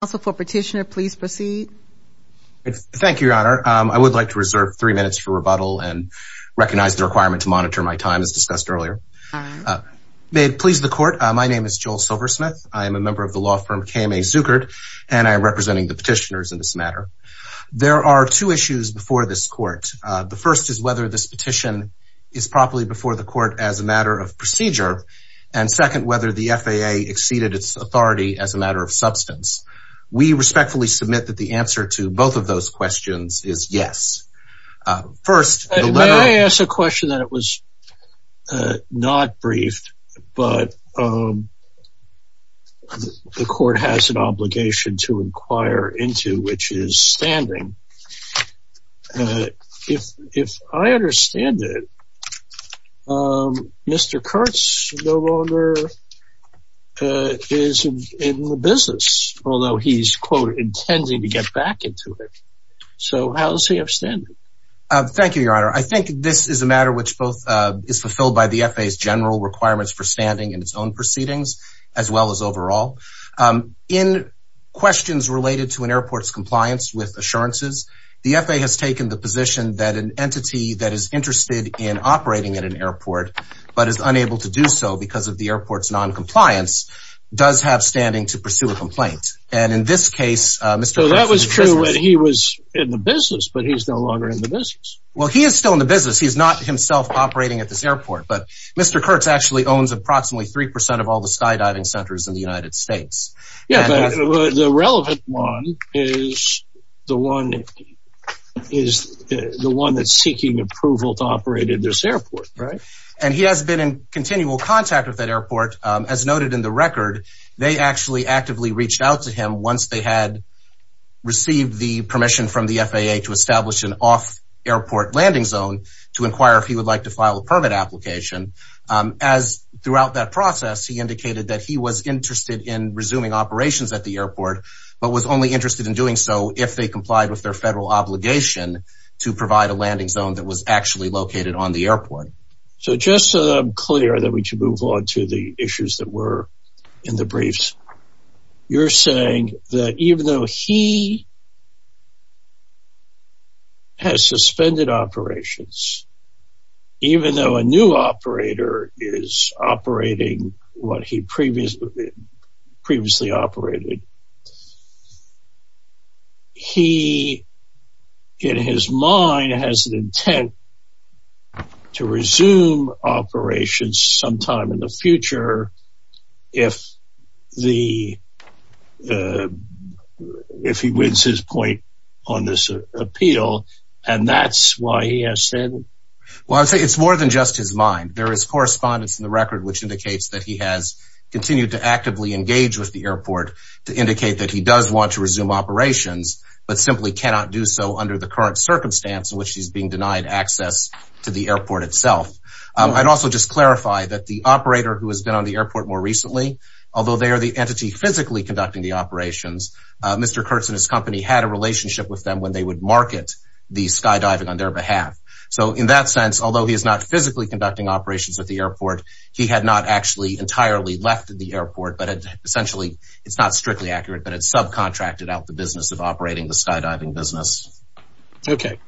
Also for petitioner, please proceed. Thank you, Your Honor. I would like to reserve three minutes for rebuttal and recognize the requirement to monitor my time as discussed earlier. May it please the court, my name is Joel Silversmith. I am a member of the law firm KMA Zuckert and I am representing the petitioners in this matter. There are two issues before this court. The first is whether this petition is properly before the court as a matter of procedure and second whether the FAA exceeded its authority as a matter of substance. We respectfully submit that the answer to both of those questions is yes. First, may I ask a question that it was not briefed but the court has an obligation to inquire into which is standing. If I understand it, Mr. Kurtz no longer is in the business although he's quote intending to get back into it. So how does he have standing? Thank you, Your Honor. I think this is a matter which both is fulfilled by the FAA's general requirements for standing in its own proceedings as well as overall. In questions related to an airport's compliance with assurances, the FAA has taken the position that an entity that is interested in operating at an airport but is unable to do so because of the airport's non-compliance does have standing to pursue a complaint and in this case... So that was true when he was in the business but he's no longer in the business. Well he is still in the business. He's not himself operating at this airport but Mr. Kurtz actually owns approximately 3% of all the skydiving centers in the United States. The relevant one is the one that's seeking approval to operate at this airport. And he has been in continual contact with that airport as noted in the record. They actually actively reached out to him once they had received the permission from the FAA to establish an off-airport landing zone to provide a landing zone that was actually located on the airport. So just so that I'm clear that we should move on to the issues that were in the briefs, you're saying that even though he has suspended operations, even though a new operator is operating what he previously operated, he in his mind has an intent to resume operations sometime in the future if he wins his point on this appeal and that's why he has said... Well I'd say it's more than just his mind. There is correspondence in the record which indicates that he has continued to actively engage with the airport to indicate that he does want to resume operations but simply cannot do so under the current circumstance in which he's being denied access to the airport itself. I'd also just clarify that the operator who has been on the airport more recently, although they are the entity physically conducting the operations, Mr. Kurtz and his company had a relationship with them when they would market the skydiving on their behalf. So in that sense, although he is not physically conducting operations at the airport, he had not actually entirely left the airport but essentially, it's not strictly accurate, but it's subcontracted out the business of operating the skydiving business. Okay,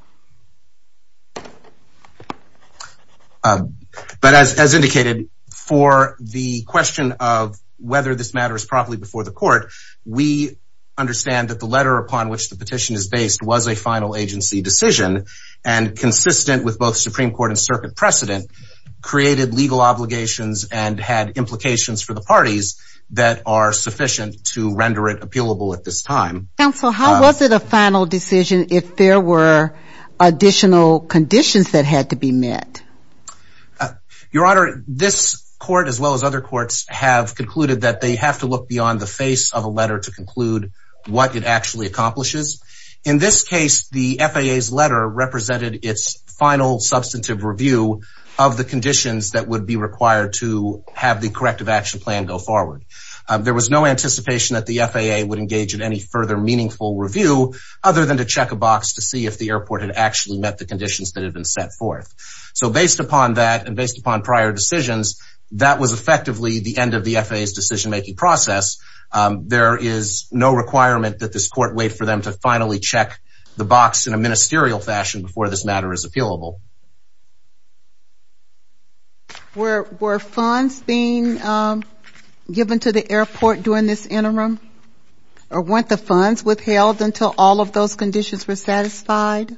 but as indicated for the question of whether this matter is properly before the court, we understand that the letter upon which the petition is based was a final agency decision and consistent with both Supreme Court and circuit precedent, created legal obligations and had implications for the parties that are sufficient to render it appealable at this time. Counsel, how was it a final decision if there were additional conditions that had to be met? Your Honor, this court as well as other courts have concluded that they have to look beyond the face of a letter to conclude what it review of the conditions that would be required to have the corrective action plan go forward. There was no anticipation that the FAA would engage in any further meaningful review other than to check a box to see if the airport had actually met the conditions that had been set forth. So based upon that and based upon prior decisions, that was effectively the end of the FAA's decision-making process. There is no requirement that this court wait for them to finally check the box in a ministerial fashion before this matter is appealable. Were funds being given to the airport during this interim? Or weren't the funds withheld until all of those conditions were satisfied?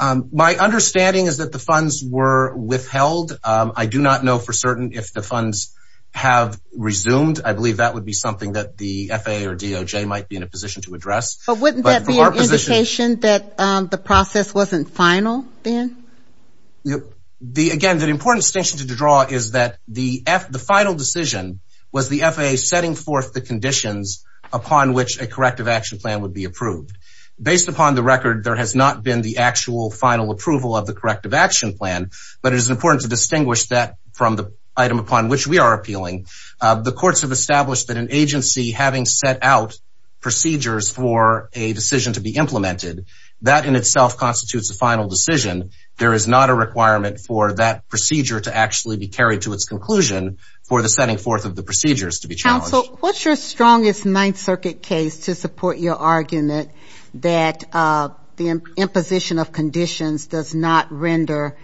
My understanding is that the funds were withheld. I do not know for certain if the funds have resumed. I believe that would be something that the FAA or DOJ might be in a position to address. But wouldn't that be an indication that the FAA would be in a position to make a final decision on the corrective action plan? Again, the important distinction to draw is that the final decision was the FAA setting forth the conditions upon which a corrective action plan would be approved. Based upon the record, there has not been the actual final approval of the corrective action plan, but it is important to distinguish that from the item upon which we are appealing. The courts have established that an agency having set out procedures for a decision to be implemented, that in itself constitutes a final decision. There is not a requirement for that procedure to actually be carried to its conclusion for the setting forth of the procedures to be challenged. What's your strongest Ninth Circuit case to support your argument that the imposition of conditions does not render,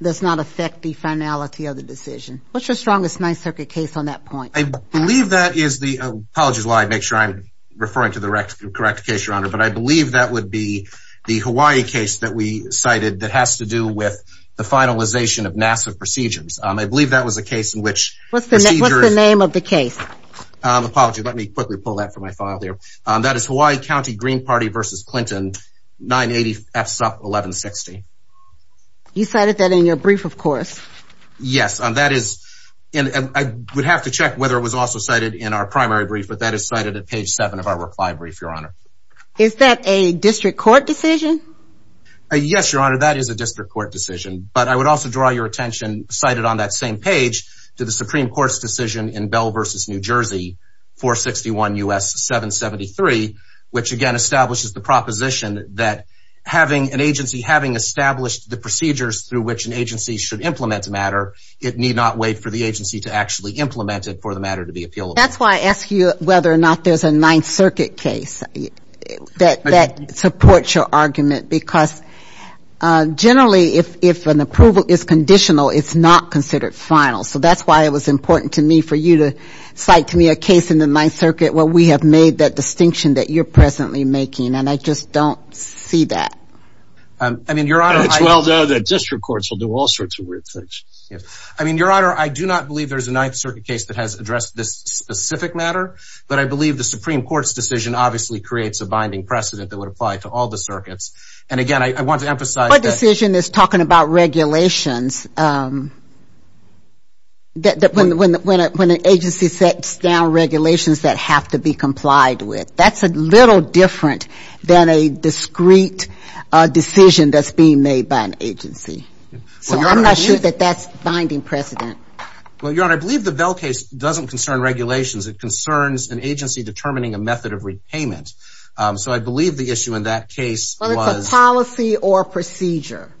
does not affect the finality of the decision? What's your strongest Ninth Circuit case on that point? I believe that is the, apologies while I make sure I'm referring to the correct case, Your Honor, but I believe that would be the Hawaii case that we cited that has to do with the finalization of NASA procedures. I believe that was a case in which, what's the name of the case? Apologies, let me quickly pull that from my file there. That is Hawaii County Green Party versus Clinton, 980 FSUP 1160. You cited that in your brief, of course. Yes, that is, and I would have to check whether it was also cited in our primary brief, but that is cited at page 7 of our reply brief, Your Honor. Is that a district court decision? Yes, Your Honor, that is a district court decision, but I would also draw your attention, cited on that same page, to the Supreme Court's decision in Bell versus New Jersey, 461 U.S. 773, which again establishes the proposition that having an agency, having established the procedures through which an agency should implement a matter, it need not wait for the agency to actually implement it for the matter to be appealed. That's why I ask you whether or not there's a Ninth Circuit case that supports your argument, because generally if an approval is conditional, it's not considered final. So that's why it was important to me for you to cite to me a case in the Ninth Circuit where we have made that distinction that you're presently making, and I just don't see that. I mean, Your Honor, I do not believe there's a Ninth Circuit case that has addressed this specific matter, but I believe the Supreme Court's decision obviously creates a binding precedent that would apply to all the circuits, and again, I want to emphasize... My decision is talking about regulations. When an agency sets down regulations that have to be complied with, that's a little different than a discrete decision that's being made by an agency. So I'm not sure that that's a binding precedent. Well, Your Honor, I believe the Vell case doesn't concern regulations. It concerns an agency determining a method of repayment. So I believe the issue in that case was... Well, it's a policy or procedure,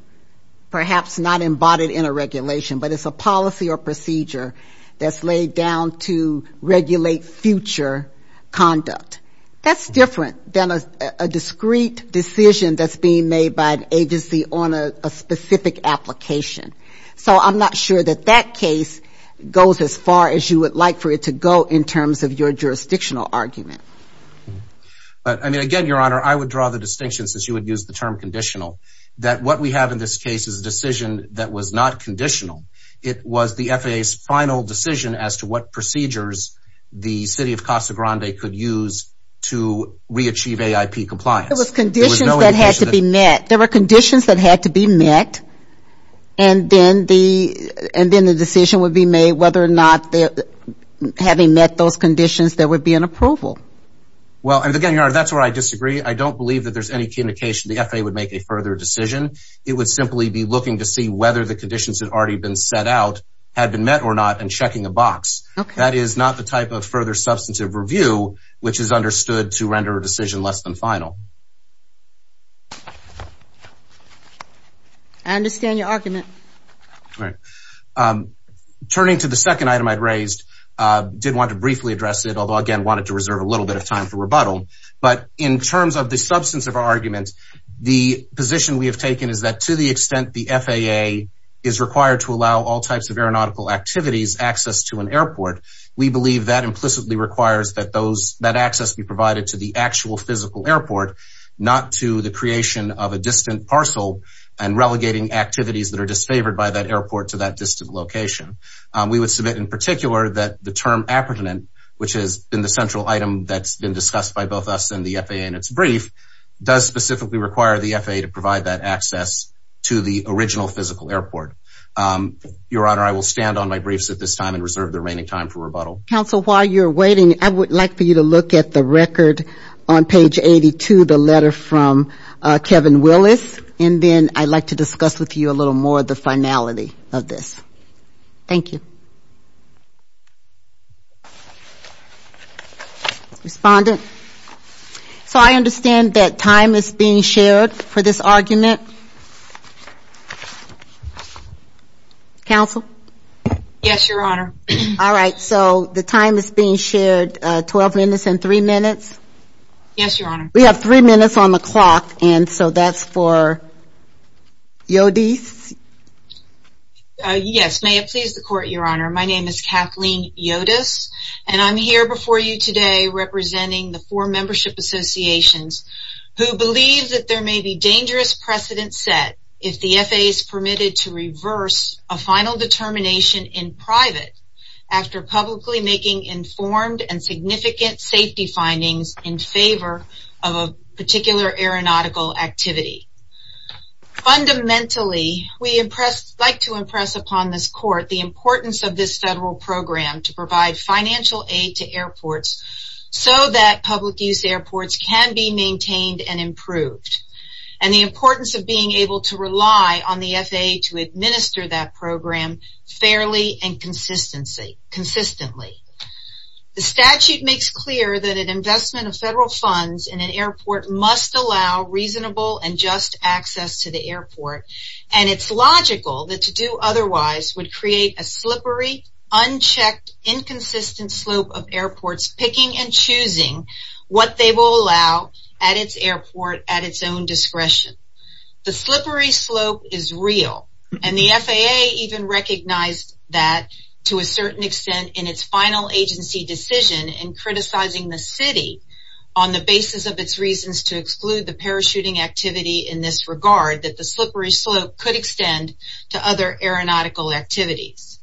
perhaps not embodied in a regulation, but it's a policy or procedure that's laid down to regulate future conduct. That's different than a discrete decision that's being made by an agency on a specific application. So I'm not sure that that case goes as far as you would like for it to go in terms of your jurisdictional argument. But, I mean, again, Your Honor, I would draw the distinction, since you would use the term conditional, that what we have in this case is a decision that was not procedures the city of Casa Grande could use to reach AIP compliance. It was conditions that had to be met. There were conditions that had to be met, and then the decision would be made whether or not, having met those conditions, there would be an approval. Well, and again, Your Honor, that's where I disagree. I don't believe that there's any indication the FAA would make a further decision. It would simply be looking to see whether the conditions had already been set out, had been met or not, and checking a box. That is not the type of further substantive review which is understood to render a decision less than final. I understand your argument. Turning to the second item I'd raised, I did want to briefly address it, although, again, I wanted to reserve a little bit of time for rebuttal. But in terms of the substance of our argument, the position we have taken is that to the extent the FAA is required to allow all types of aeronautical activities access to an airport, we believe that implicitly requires that those, that access be provided to the actual physical airport, not to the creation of a distant parcel and relegating activities that are disfavored by that airport to that distant location. We would submit in particular that the term appurtenant, which has been the central item that's been discussed by both us and the FAA in its brief, does specifically require the FAA to provide that access to the original physical airport. Your Honor, I will stand on my briefs at this time and reserve the remaining time for rebuttal. Counsel, while you're waiting, I would like for you to look at the record on page 82, the letter from Kevin Willis, and then I'd like to discuss with you a little more of the finality of this. Thank you. Respondent. So I understand that time is being shared for this argument. Counsel. Yes, Your Honor. All right, so the time is being shared, 12 minutes and three minutes. Yes, Your Honor. We have three minutes on the clock, and so that's for Yodice. Yes, may it please the Court, Your Honor. My name is Kathleen Yodice, and I'm here before you today representing the four membership associations who believe that there may be dangerous precedent set if the FAA is permitted to reverse a final determination in private after publicly making informed and significant safety findings in favor of a particular aeronautical activity. Fundamentally, we like to impress upon this Court the importance of this federal program to provide financial aid to airports so that public-use airports can be maintained and improved. And the importance of being able to rely on the FAA to administer that program fairly and consistently. The statute makes clear that an investment of federal funds in an airport must allow reasonable and just access to the airport, and it's logical that to do otherwise would create a slippery, unchecked, inconsistent slope of airports picking and choosing what they will allow at its airport at its own discretion. The slippery slope is real, and the FAA even recognized that to a certain extent in its final agency decision in criticizing the city on the basis of its reasons to exclude the parachuting activity in this regard that the slippery slope could extend to other aeronautical activities.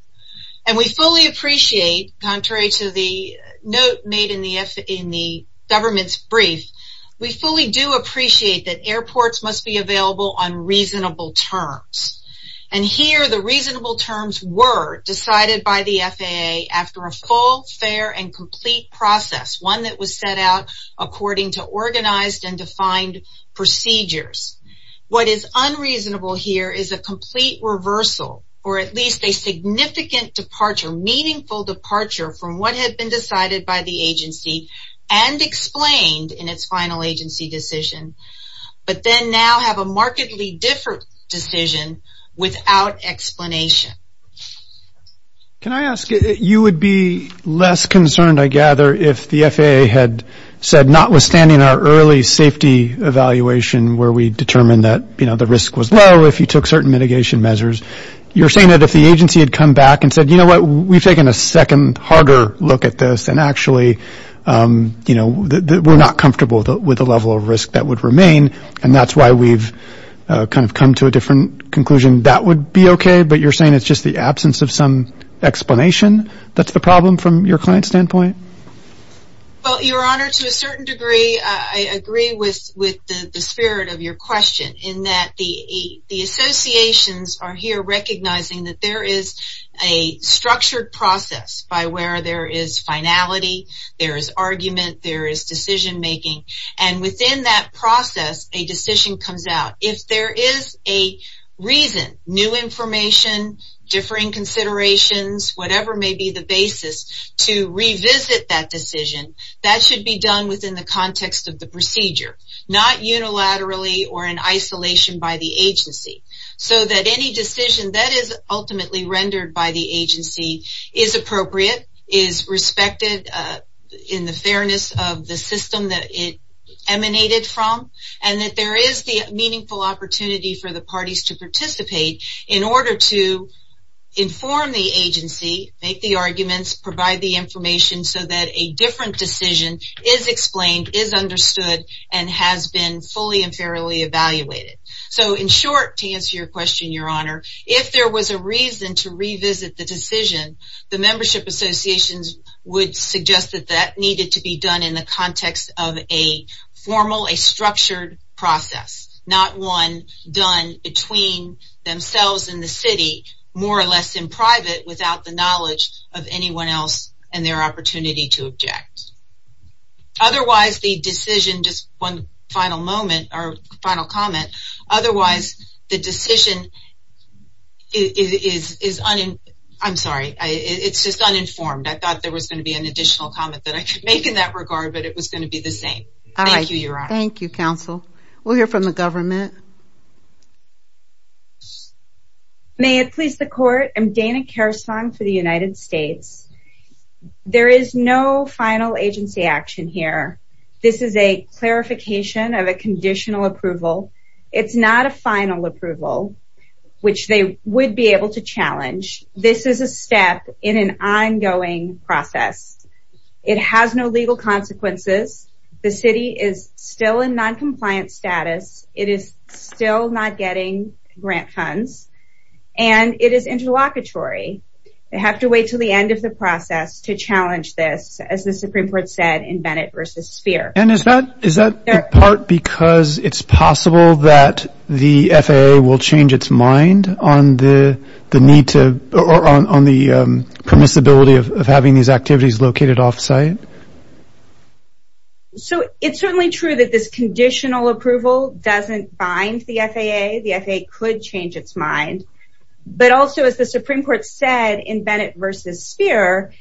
And we fully appreciate, contrary to the note made in the government's brief, we fully do appreciate that airports must be available on reasonable terms. And here the reasonable terms were decided by the FAA after a full, fair, and complete process, one that was set out according to organized and defined procedures. What is unreasonable here is a complete reversal, or at least a significant departure, meaningful departure from what had been decided by the agency and explained in its final agency decision, but then now have a markedly different decision without explanation. Can I ask, you would be less concerned, I gather, if the FAA had said, notwithstanding our early safety evaluation where we determined that, you know, the risk was low if you took certain mitigation measures, you're saying that if the agency had come back and said, you know what, we've taken a second, harder look at this, and actually, you know, we're not comfortable with the level of risk that would remain, and that's why we've kind of come to a different conclusion, that would be okay? But you're saying it's just the absence of some explanation that's the problem from your client's standpoint? Well, Your Honor, to a certain degree, I agree with the spirit of your question in that the associations are here recognizing that there is a structured process by where there is finality, there is argument, there is decision making, and within that process, a decision comes out. If there is a reason, new information, differing considerations, whatever may be the basis to revisit that decision, that should be done within the context of the procedure, not unilaterally or in isolation by the agency, so that any decision that is ultimately rendered by the agency is appropriate, is respected in the fairness of the system that it emanated from, and that there is the meaningful consideration of that decision. There is a meaningful opportunity for the parties to participate in order to inform the agency, make the arguments, provide the information, so that a different decision is explained, is understood, and has been fully and fairly evaluated. So, in short, to answer your question, Your Honor, if there was a reason to revisit the decision, the membership associations would suggest that that needed to be done in the context of a formal, a structured process, not one done between themselves and the city, more or less in private, without the knowledge of anyone else and their opportunity to object. Otherwise, the decision, just one final moment, or final comment, otherwise the decision is, I'm sorry, it's just uninformed. I thought there was going to be an additional comment that I could make in that regard, but it was going to be the same. Thank you, Your Honor. Thank you, counsel. We'll hear from the government. May it please the court, I'm Dana Kerstong for the United States. There is no final agency action here. This is a clarification of a conditional approval. It's not a final approval, which they would be able to challenge. This is a step in an ongoing process. It has no legal consequences. The city is still in noncompliant status. It is still not getting grant funds, and it is interlocutory. They have to wait until the end of the process to challenge this, as the Supreme Court said in Bennett v. Sphere. And is that in part because it's possible that the FAA will change its mind on the need to, or on the permissibility of having these activities located off-site? So, it's certainly true that this conditional approval doesn't bind the FAA. The FAA could change its mind. But also, as the Supreme Court said in Bennett v. Sphere,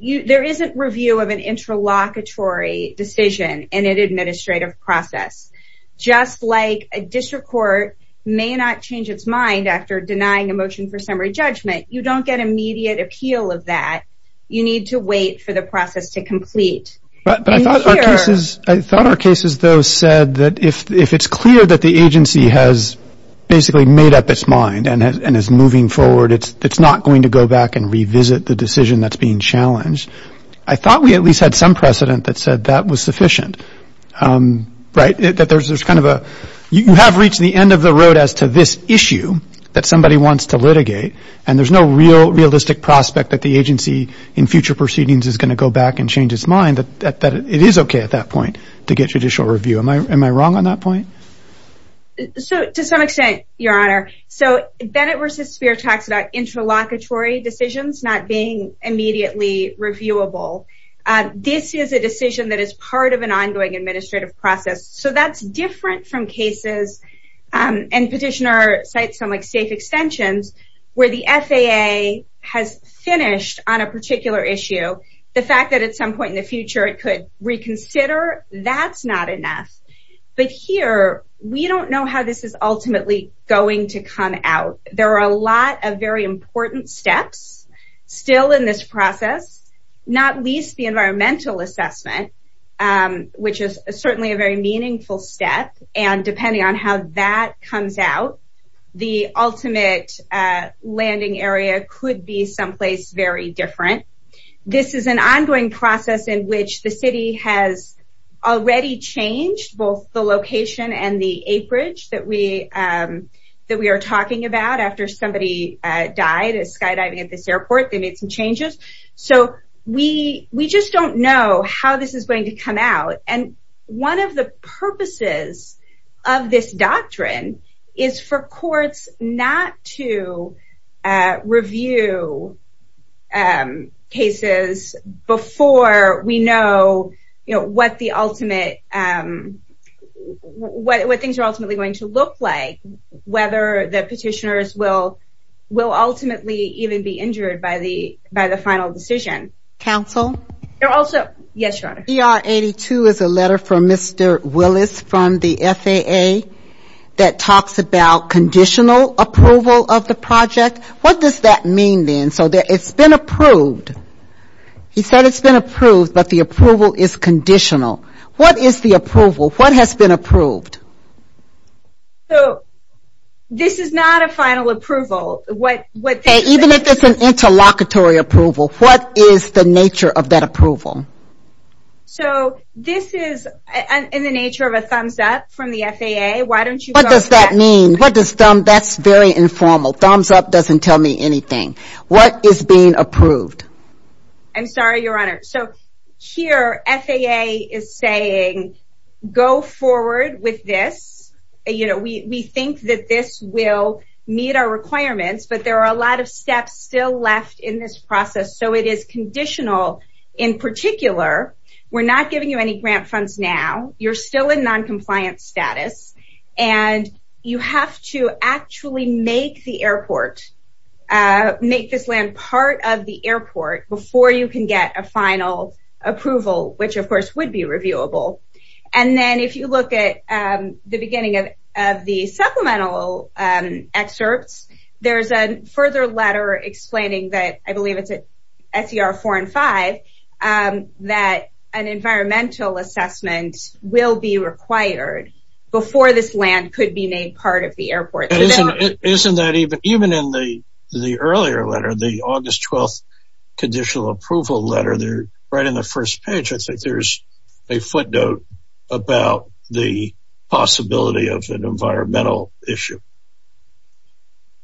there isn't review of an interlocutory decision in an administrative process. Just like a district court may not change its mind after denying a motion for summary judgment, you don't get immediate appeal of that. You need to wait for the process to complete. I thought our cases, though, said that if it's clear that the agency has basically made up its mind and is moving forward, it's not going to go back and revisit the decision that's being challenged. I thought we at least had some precedent that said that was sufficient. You have reached the end of the road as to this issue that somebody wants to litigate, and there's no real realistic prospect that the agency in future proceedings is going to go back and change its mind, that it is okay at that point to get judicial review. Am I wrong on that point? So, to some extent, Your Honor. So, Bennett v. Sphere talks about interlocutory decisions not being immediately reviewable. This is a decision that is part of an ongoing administrative process. So, that's different from cases, and Petitioner cites some safe extensions, where the FAA has finished on a particular issue. The fact that at some point in the future it could reconsider, that's not enough. But here, we don't know how this is ultimately going to come out. There are a lot of very important steps still in this process, not least the environmental assessment, which is certainly a very meaningful step, and depending on how that comes out, the ultimate landing area could be someplace very different. This is an ongoing process in which the City has already changed both the location and the a bridge that we are talking about. After somebody died skydiving at this airport, they made some changes. So, we just don't know how this is going to come out. One of the purposes of this doctrine is for courts not to review cases before we know what things are ultimately going to look like, whether the petitioners will ultimately even be injured by the final decision. Council? Yes, Your Honor. CR 82 is a letter from Mr. Willis from the FAA, that talks about conditional approval of the project. What does that mean then? It's been approved. He said it's been approved, but the approval is conditional. What is the approval? What has been approved? So, this is not a final approval. Even if it's an interlocutory approval, what is the nature of that approval? So, this is in the nature of a thumbs up from the FAA. What does that mean? That's very informal. Thumbs up doesn't tell me anything. What is being approved? I'm sorry, Your Honor. Here, FAA is saying, go forward with this. We think that this will meet our requirements, but there are a lot of steps still left in this process. So, it is conditional. In particular, we're not giving you any grant funds now. You're still in non-compliance status. You have to actually make the airport, make this land part of the airport, before you can get a final approval, which, of course, would be reviewable. And then, if you look at the beginning of the supplemental excerpts, there's a further letter explaining that, I believe it's at SER 4 and 5, that an environmental assessment will be required before this land could be made part of the airport. Isn't that even in the earlier letter, the August 12th conditional approval letter, right in the first page, I think there's a footnote about the possibility of an environmental issue.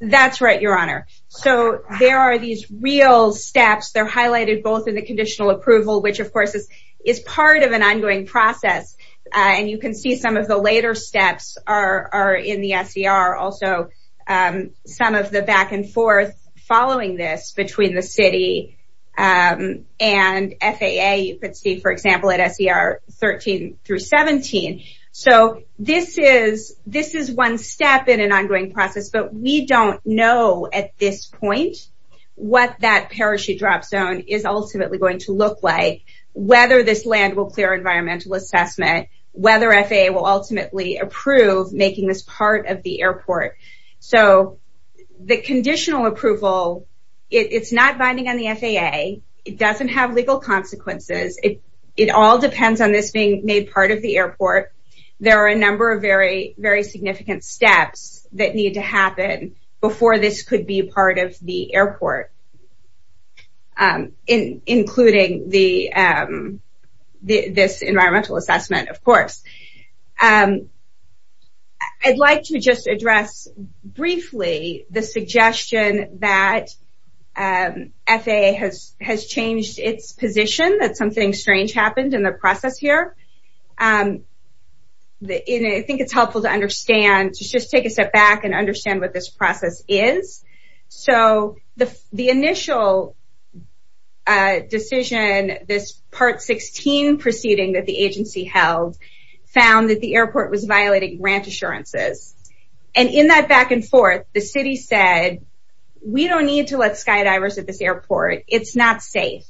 That's right, Your Honor. So, there are these real steps. They're highlighted both in the conditional approval, which, of course, is part of an ongoing process. And you can see some of the later steps are in the SER, also some of the back-and-forth following this between the City and FAA. You can see, for example, at SER 13 through 17. So, this is one step in an ongoing process, but we don't know at this point what that parachute drop zone is ultimately going to look like, whether this land will clear environmental assessment, whether FAA will ultimately approve making this part of the airport. So, the conditional approval, it's not binding on the FAA. It doesn't have legal consequences. It all depends on this being made part of the airport. There are a number of very significant steps that need to happen before this could be part of the airport, including this environmental assessment, of course. I'd like to just address briefly the suggestion that FAA has changed its position, that something strange happened in the process here. I think it's helpful to understand, to just take a step back and understand what this process is. So, the initial decision, this Part 16 proceeding that the agency held, found that the airport was violating grant assurances. And in that back and forth, the city said, we don't need to let skydivers at this airport. It's not safe.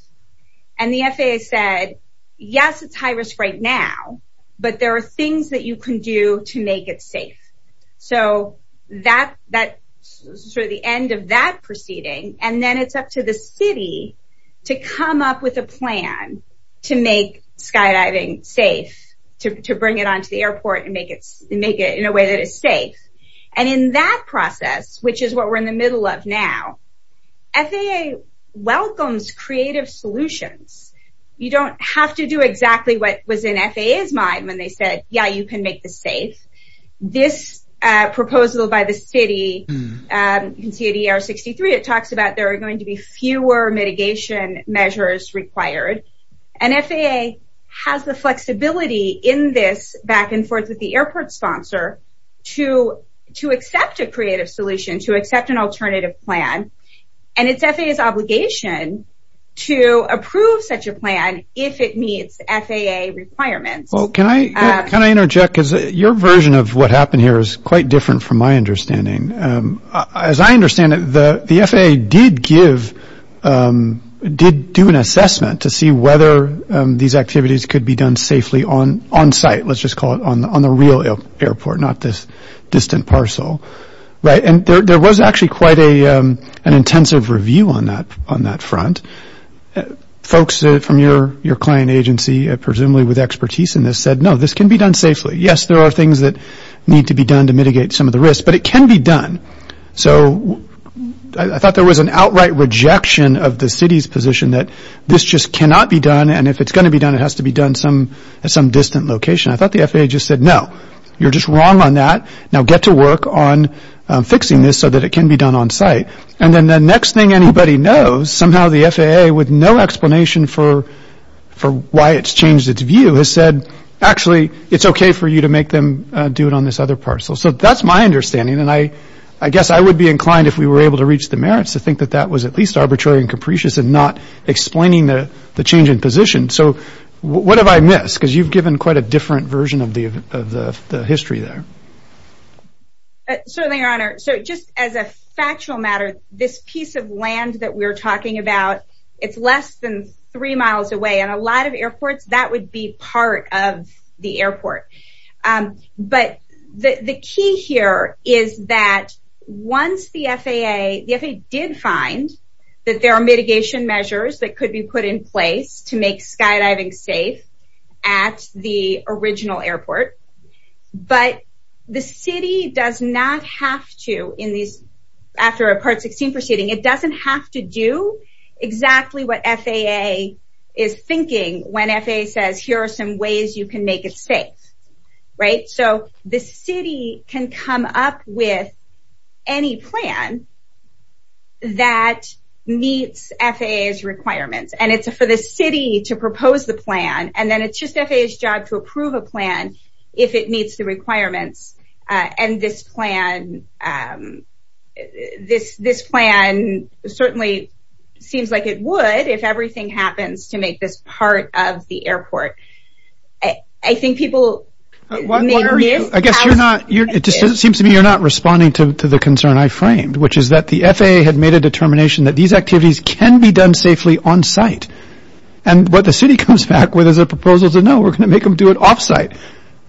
And the FAA said, yes, it's high risk right now, but there are things that you can do to make it safe. So, that's sort of the end of that proceeding. And then it's up to the city to come up with a plan to make skydiving safe, to bring it onto the airport and make it in a way that is safe. And in that process, which is what we're in the middle of now, FAA welcomes creative solutions. You don't have to do exactly what was in FAA's mind when they said, yeah, you can make this safe. This proposal by the city, you can see at ER 63, it talks about there are going to be fewer mitigation measures required. And FAA has the flexibility in this back and forth with the airport sponsor to accept a creative solution, to accept an alternative plan. And it's FAA's obligation to approve such a plan if it meets FAA requirements. Well, can I interject? Because your version of what happened here is quite different from my understanding. As I understand it, the FAA did give, did do an assessment to see whether these activities could be done safely on site, let's just call it, on the real airport, not this distant parcel. And there was actually quite an intensive review on that front. Folks from your client agency, presumably with expertise in this, said, no, this can be done safely. Yes, there are things that need to be done to mitigate some of the risks, but it can be done. So I thought there was an outright rejection of the city's position that this just cannot be done, and if it's going to be done, it has to be done at some distant location. I thought the FAA just said, no, you're just wrong on that. Now get to work on fixing this so that it can be done on site. And then the next thing anybody knows, somehow the FAA, with no explanation for why it's changed its view, has said, actually, it's okay for you to make them do it on this other parcel. So that's my understanding, and I guess I would be inclined, if we were able to reach the merits, to think that that was at least arbitrary and capricious and not explaining the change in position. So what have I missed? Because you've given quite a different version of the history there. Certainly, Your Honor. So just as a factual matter, this piece of land that we're talking about, it's less than three miles away, and a lot of airports, that would be part of the airport. But the key here is that once the FAA, the FAA did find that there are mitigation measures that could be put in place to make skydiving safe at the original airport, but the city does not have to, after a Part 16 proceeding, it doesn't have to do exactly what FAA is thinking when FAA says, here are some ways you can make it safe, right? So the city can come up with any plan that meets FAA's requirements, and it's for the city to propose the plan, and then it's just FAA's job to approve a plan if it meets the requirements, and this plan certainly seems like it would if everything happens to make this part of the airport. I think people may be... I guess you're not, it just seems to me you're not responding to the concern I framed, which is that the FAA had made a determination that these activities can be done safely on-site, and what the city comes back with is a proposal to no, we're going to make them do it off-site.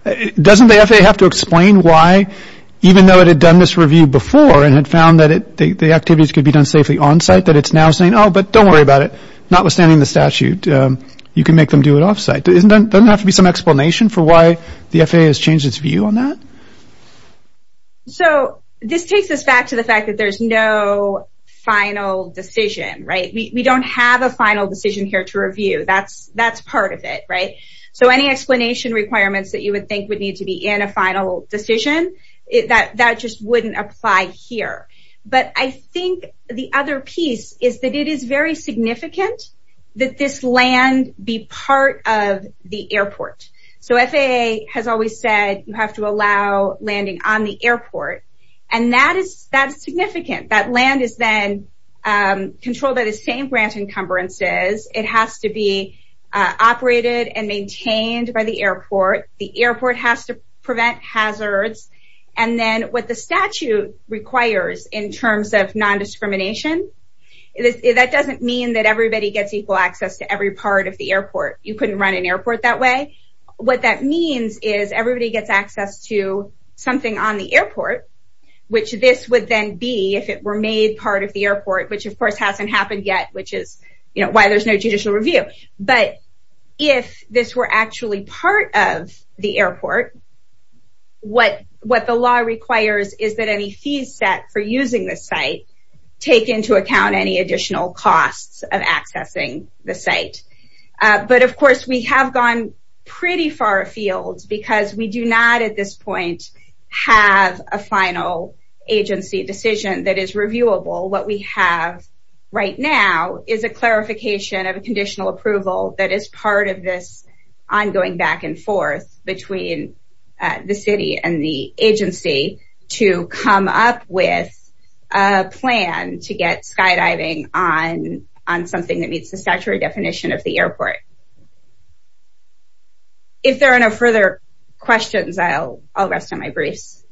Doesn't the FAA have to explain why, even though it had done this review before and had found that the activities could be done safely on-site, that it's now saying, oh, but don't worry about it. Notwithstanding the statute, you can make them do it off-site. Doesn't there have to be some explanation for why the FAA has changed its view on that? So this takes us back to the fact that there's no final decision, right? We don't have a final decision here to review. That's part of it, right? So any explanation requirements that you would think would need to be in a final decision, that just wouldn't apply here. But I think the other piece is that it is very significant that this land be part of the airport. So FAA has always said, you have to allow landing on the airport, and that is significant. That land is then controlled by the same grant encumbrances. It has to be operated and maintained by the airport. The airport has to prevent hazards. And then what the statute requires in terms of nondiscrimination, that doesn't mean that everybody gets equal access to every part of the airport. You couldn't run an airport that way. What that means is everybody gets access to something on the airport, which this would then be if it were made part of the airport, which, of course, hasn't happened yet, which is why there's no judicial review. But if this were actually part of the airport, what the law requires is that any fees set for using the site take into account any additional costs of accessing the site. But, of course, we have gone pretty far afield because we do not at this point have a final agency decision that is reviewable. What we have right now is a clarification of a conditional approval that is part of this ongoing back and forth between the city and the agency to come up with a plan to get skydiving on something that meets the statutory definition of the airport. If there are no further questions, I'll rest on my briefs.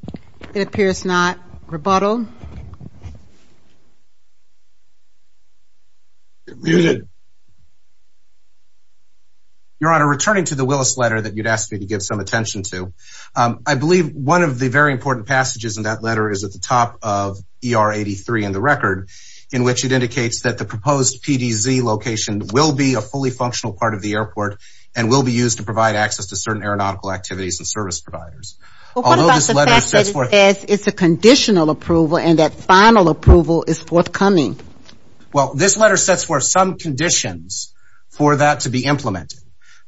It appears not. Rebuttal. Your Honor, returning to the Willis letter that you'd asked me to give some attention to, I believe one of the very important passages in that letter is at the top of ER 83 in the record, in which it indicates that the proposed PDZ location will be a fully functional part of the airport and will be used to provide access to certain aeronautical activities and service providers. What about the fact that it says it's a conditional approval and that final approval is forthcoming? Well, this letter sets forth some conditions for that to be implemented.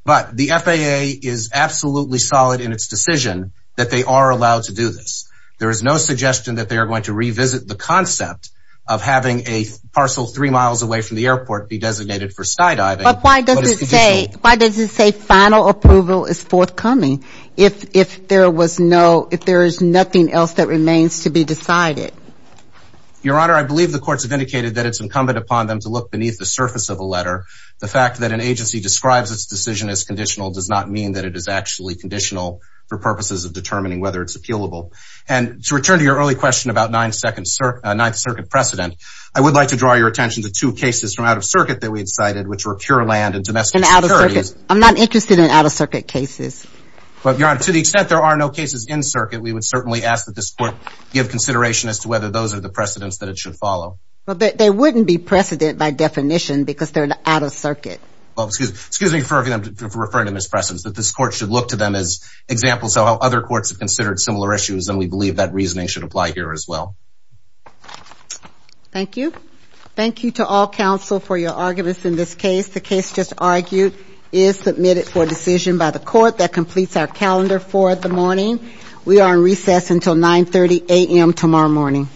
But the FAA is absolutely solid in its decision that they are allowed to do this. There is no suggestion that they are going to revisit the concept of having a parcel three miles away from the airport be designated for skydiving. But why does it say final approval is forthcoming if there is nothing else that remains to be decided? Your Honor, I believe the courts have indicated that it's incumbent upon them to look beneath the surface of a letter. The fact that an agency describes its decision as conditional does not mean that it is actually conditional for purposes of determining whether it's appealable. And to return to your early question about Ninth Circuit precedent, I would like to draw your attention to two cases from out of circuit that we had cited, which were pure land and domestic securities. I'm not interested in out of circuit cases. But, Your Honor, to the extent there are no cases in circuit, we would certainly ask that this court give consideration as to whether those are the precedents that it should follow. But they wouldn't be precedent by definition because they're out of circuit. Well, excuse me for referring to them as precedents, but this court should look to them as examples of how other courts have considered similar issues, and we believe that reasoning should apply here as well. Thank you. Thank you to all counsel for your arguments in this case. The case just argued is submitted for decision by the court that completes our calendar for the morning. We are in recess until 9.30 a.m. tomorrow morning.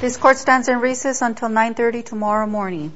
This court stands in recess until 9.30 tomorrow morning.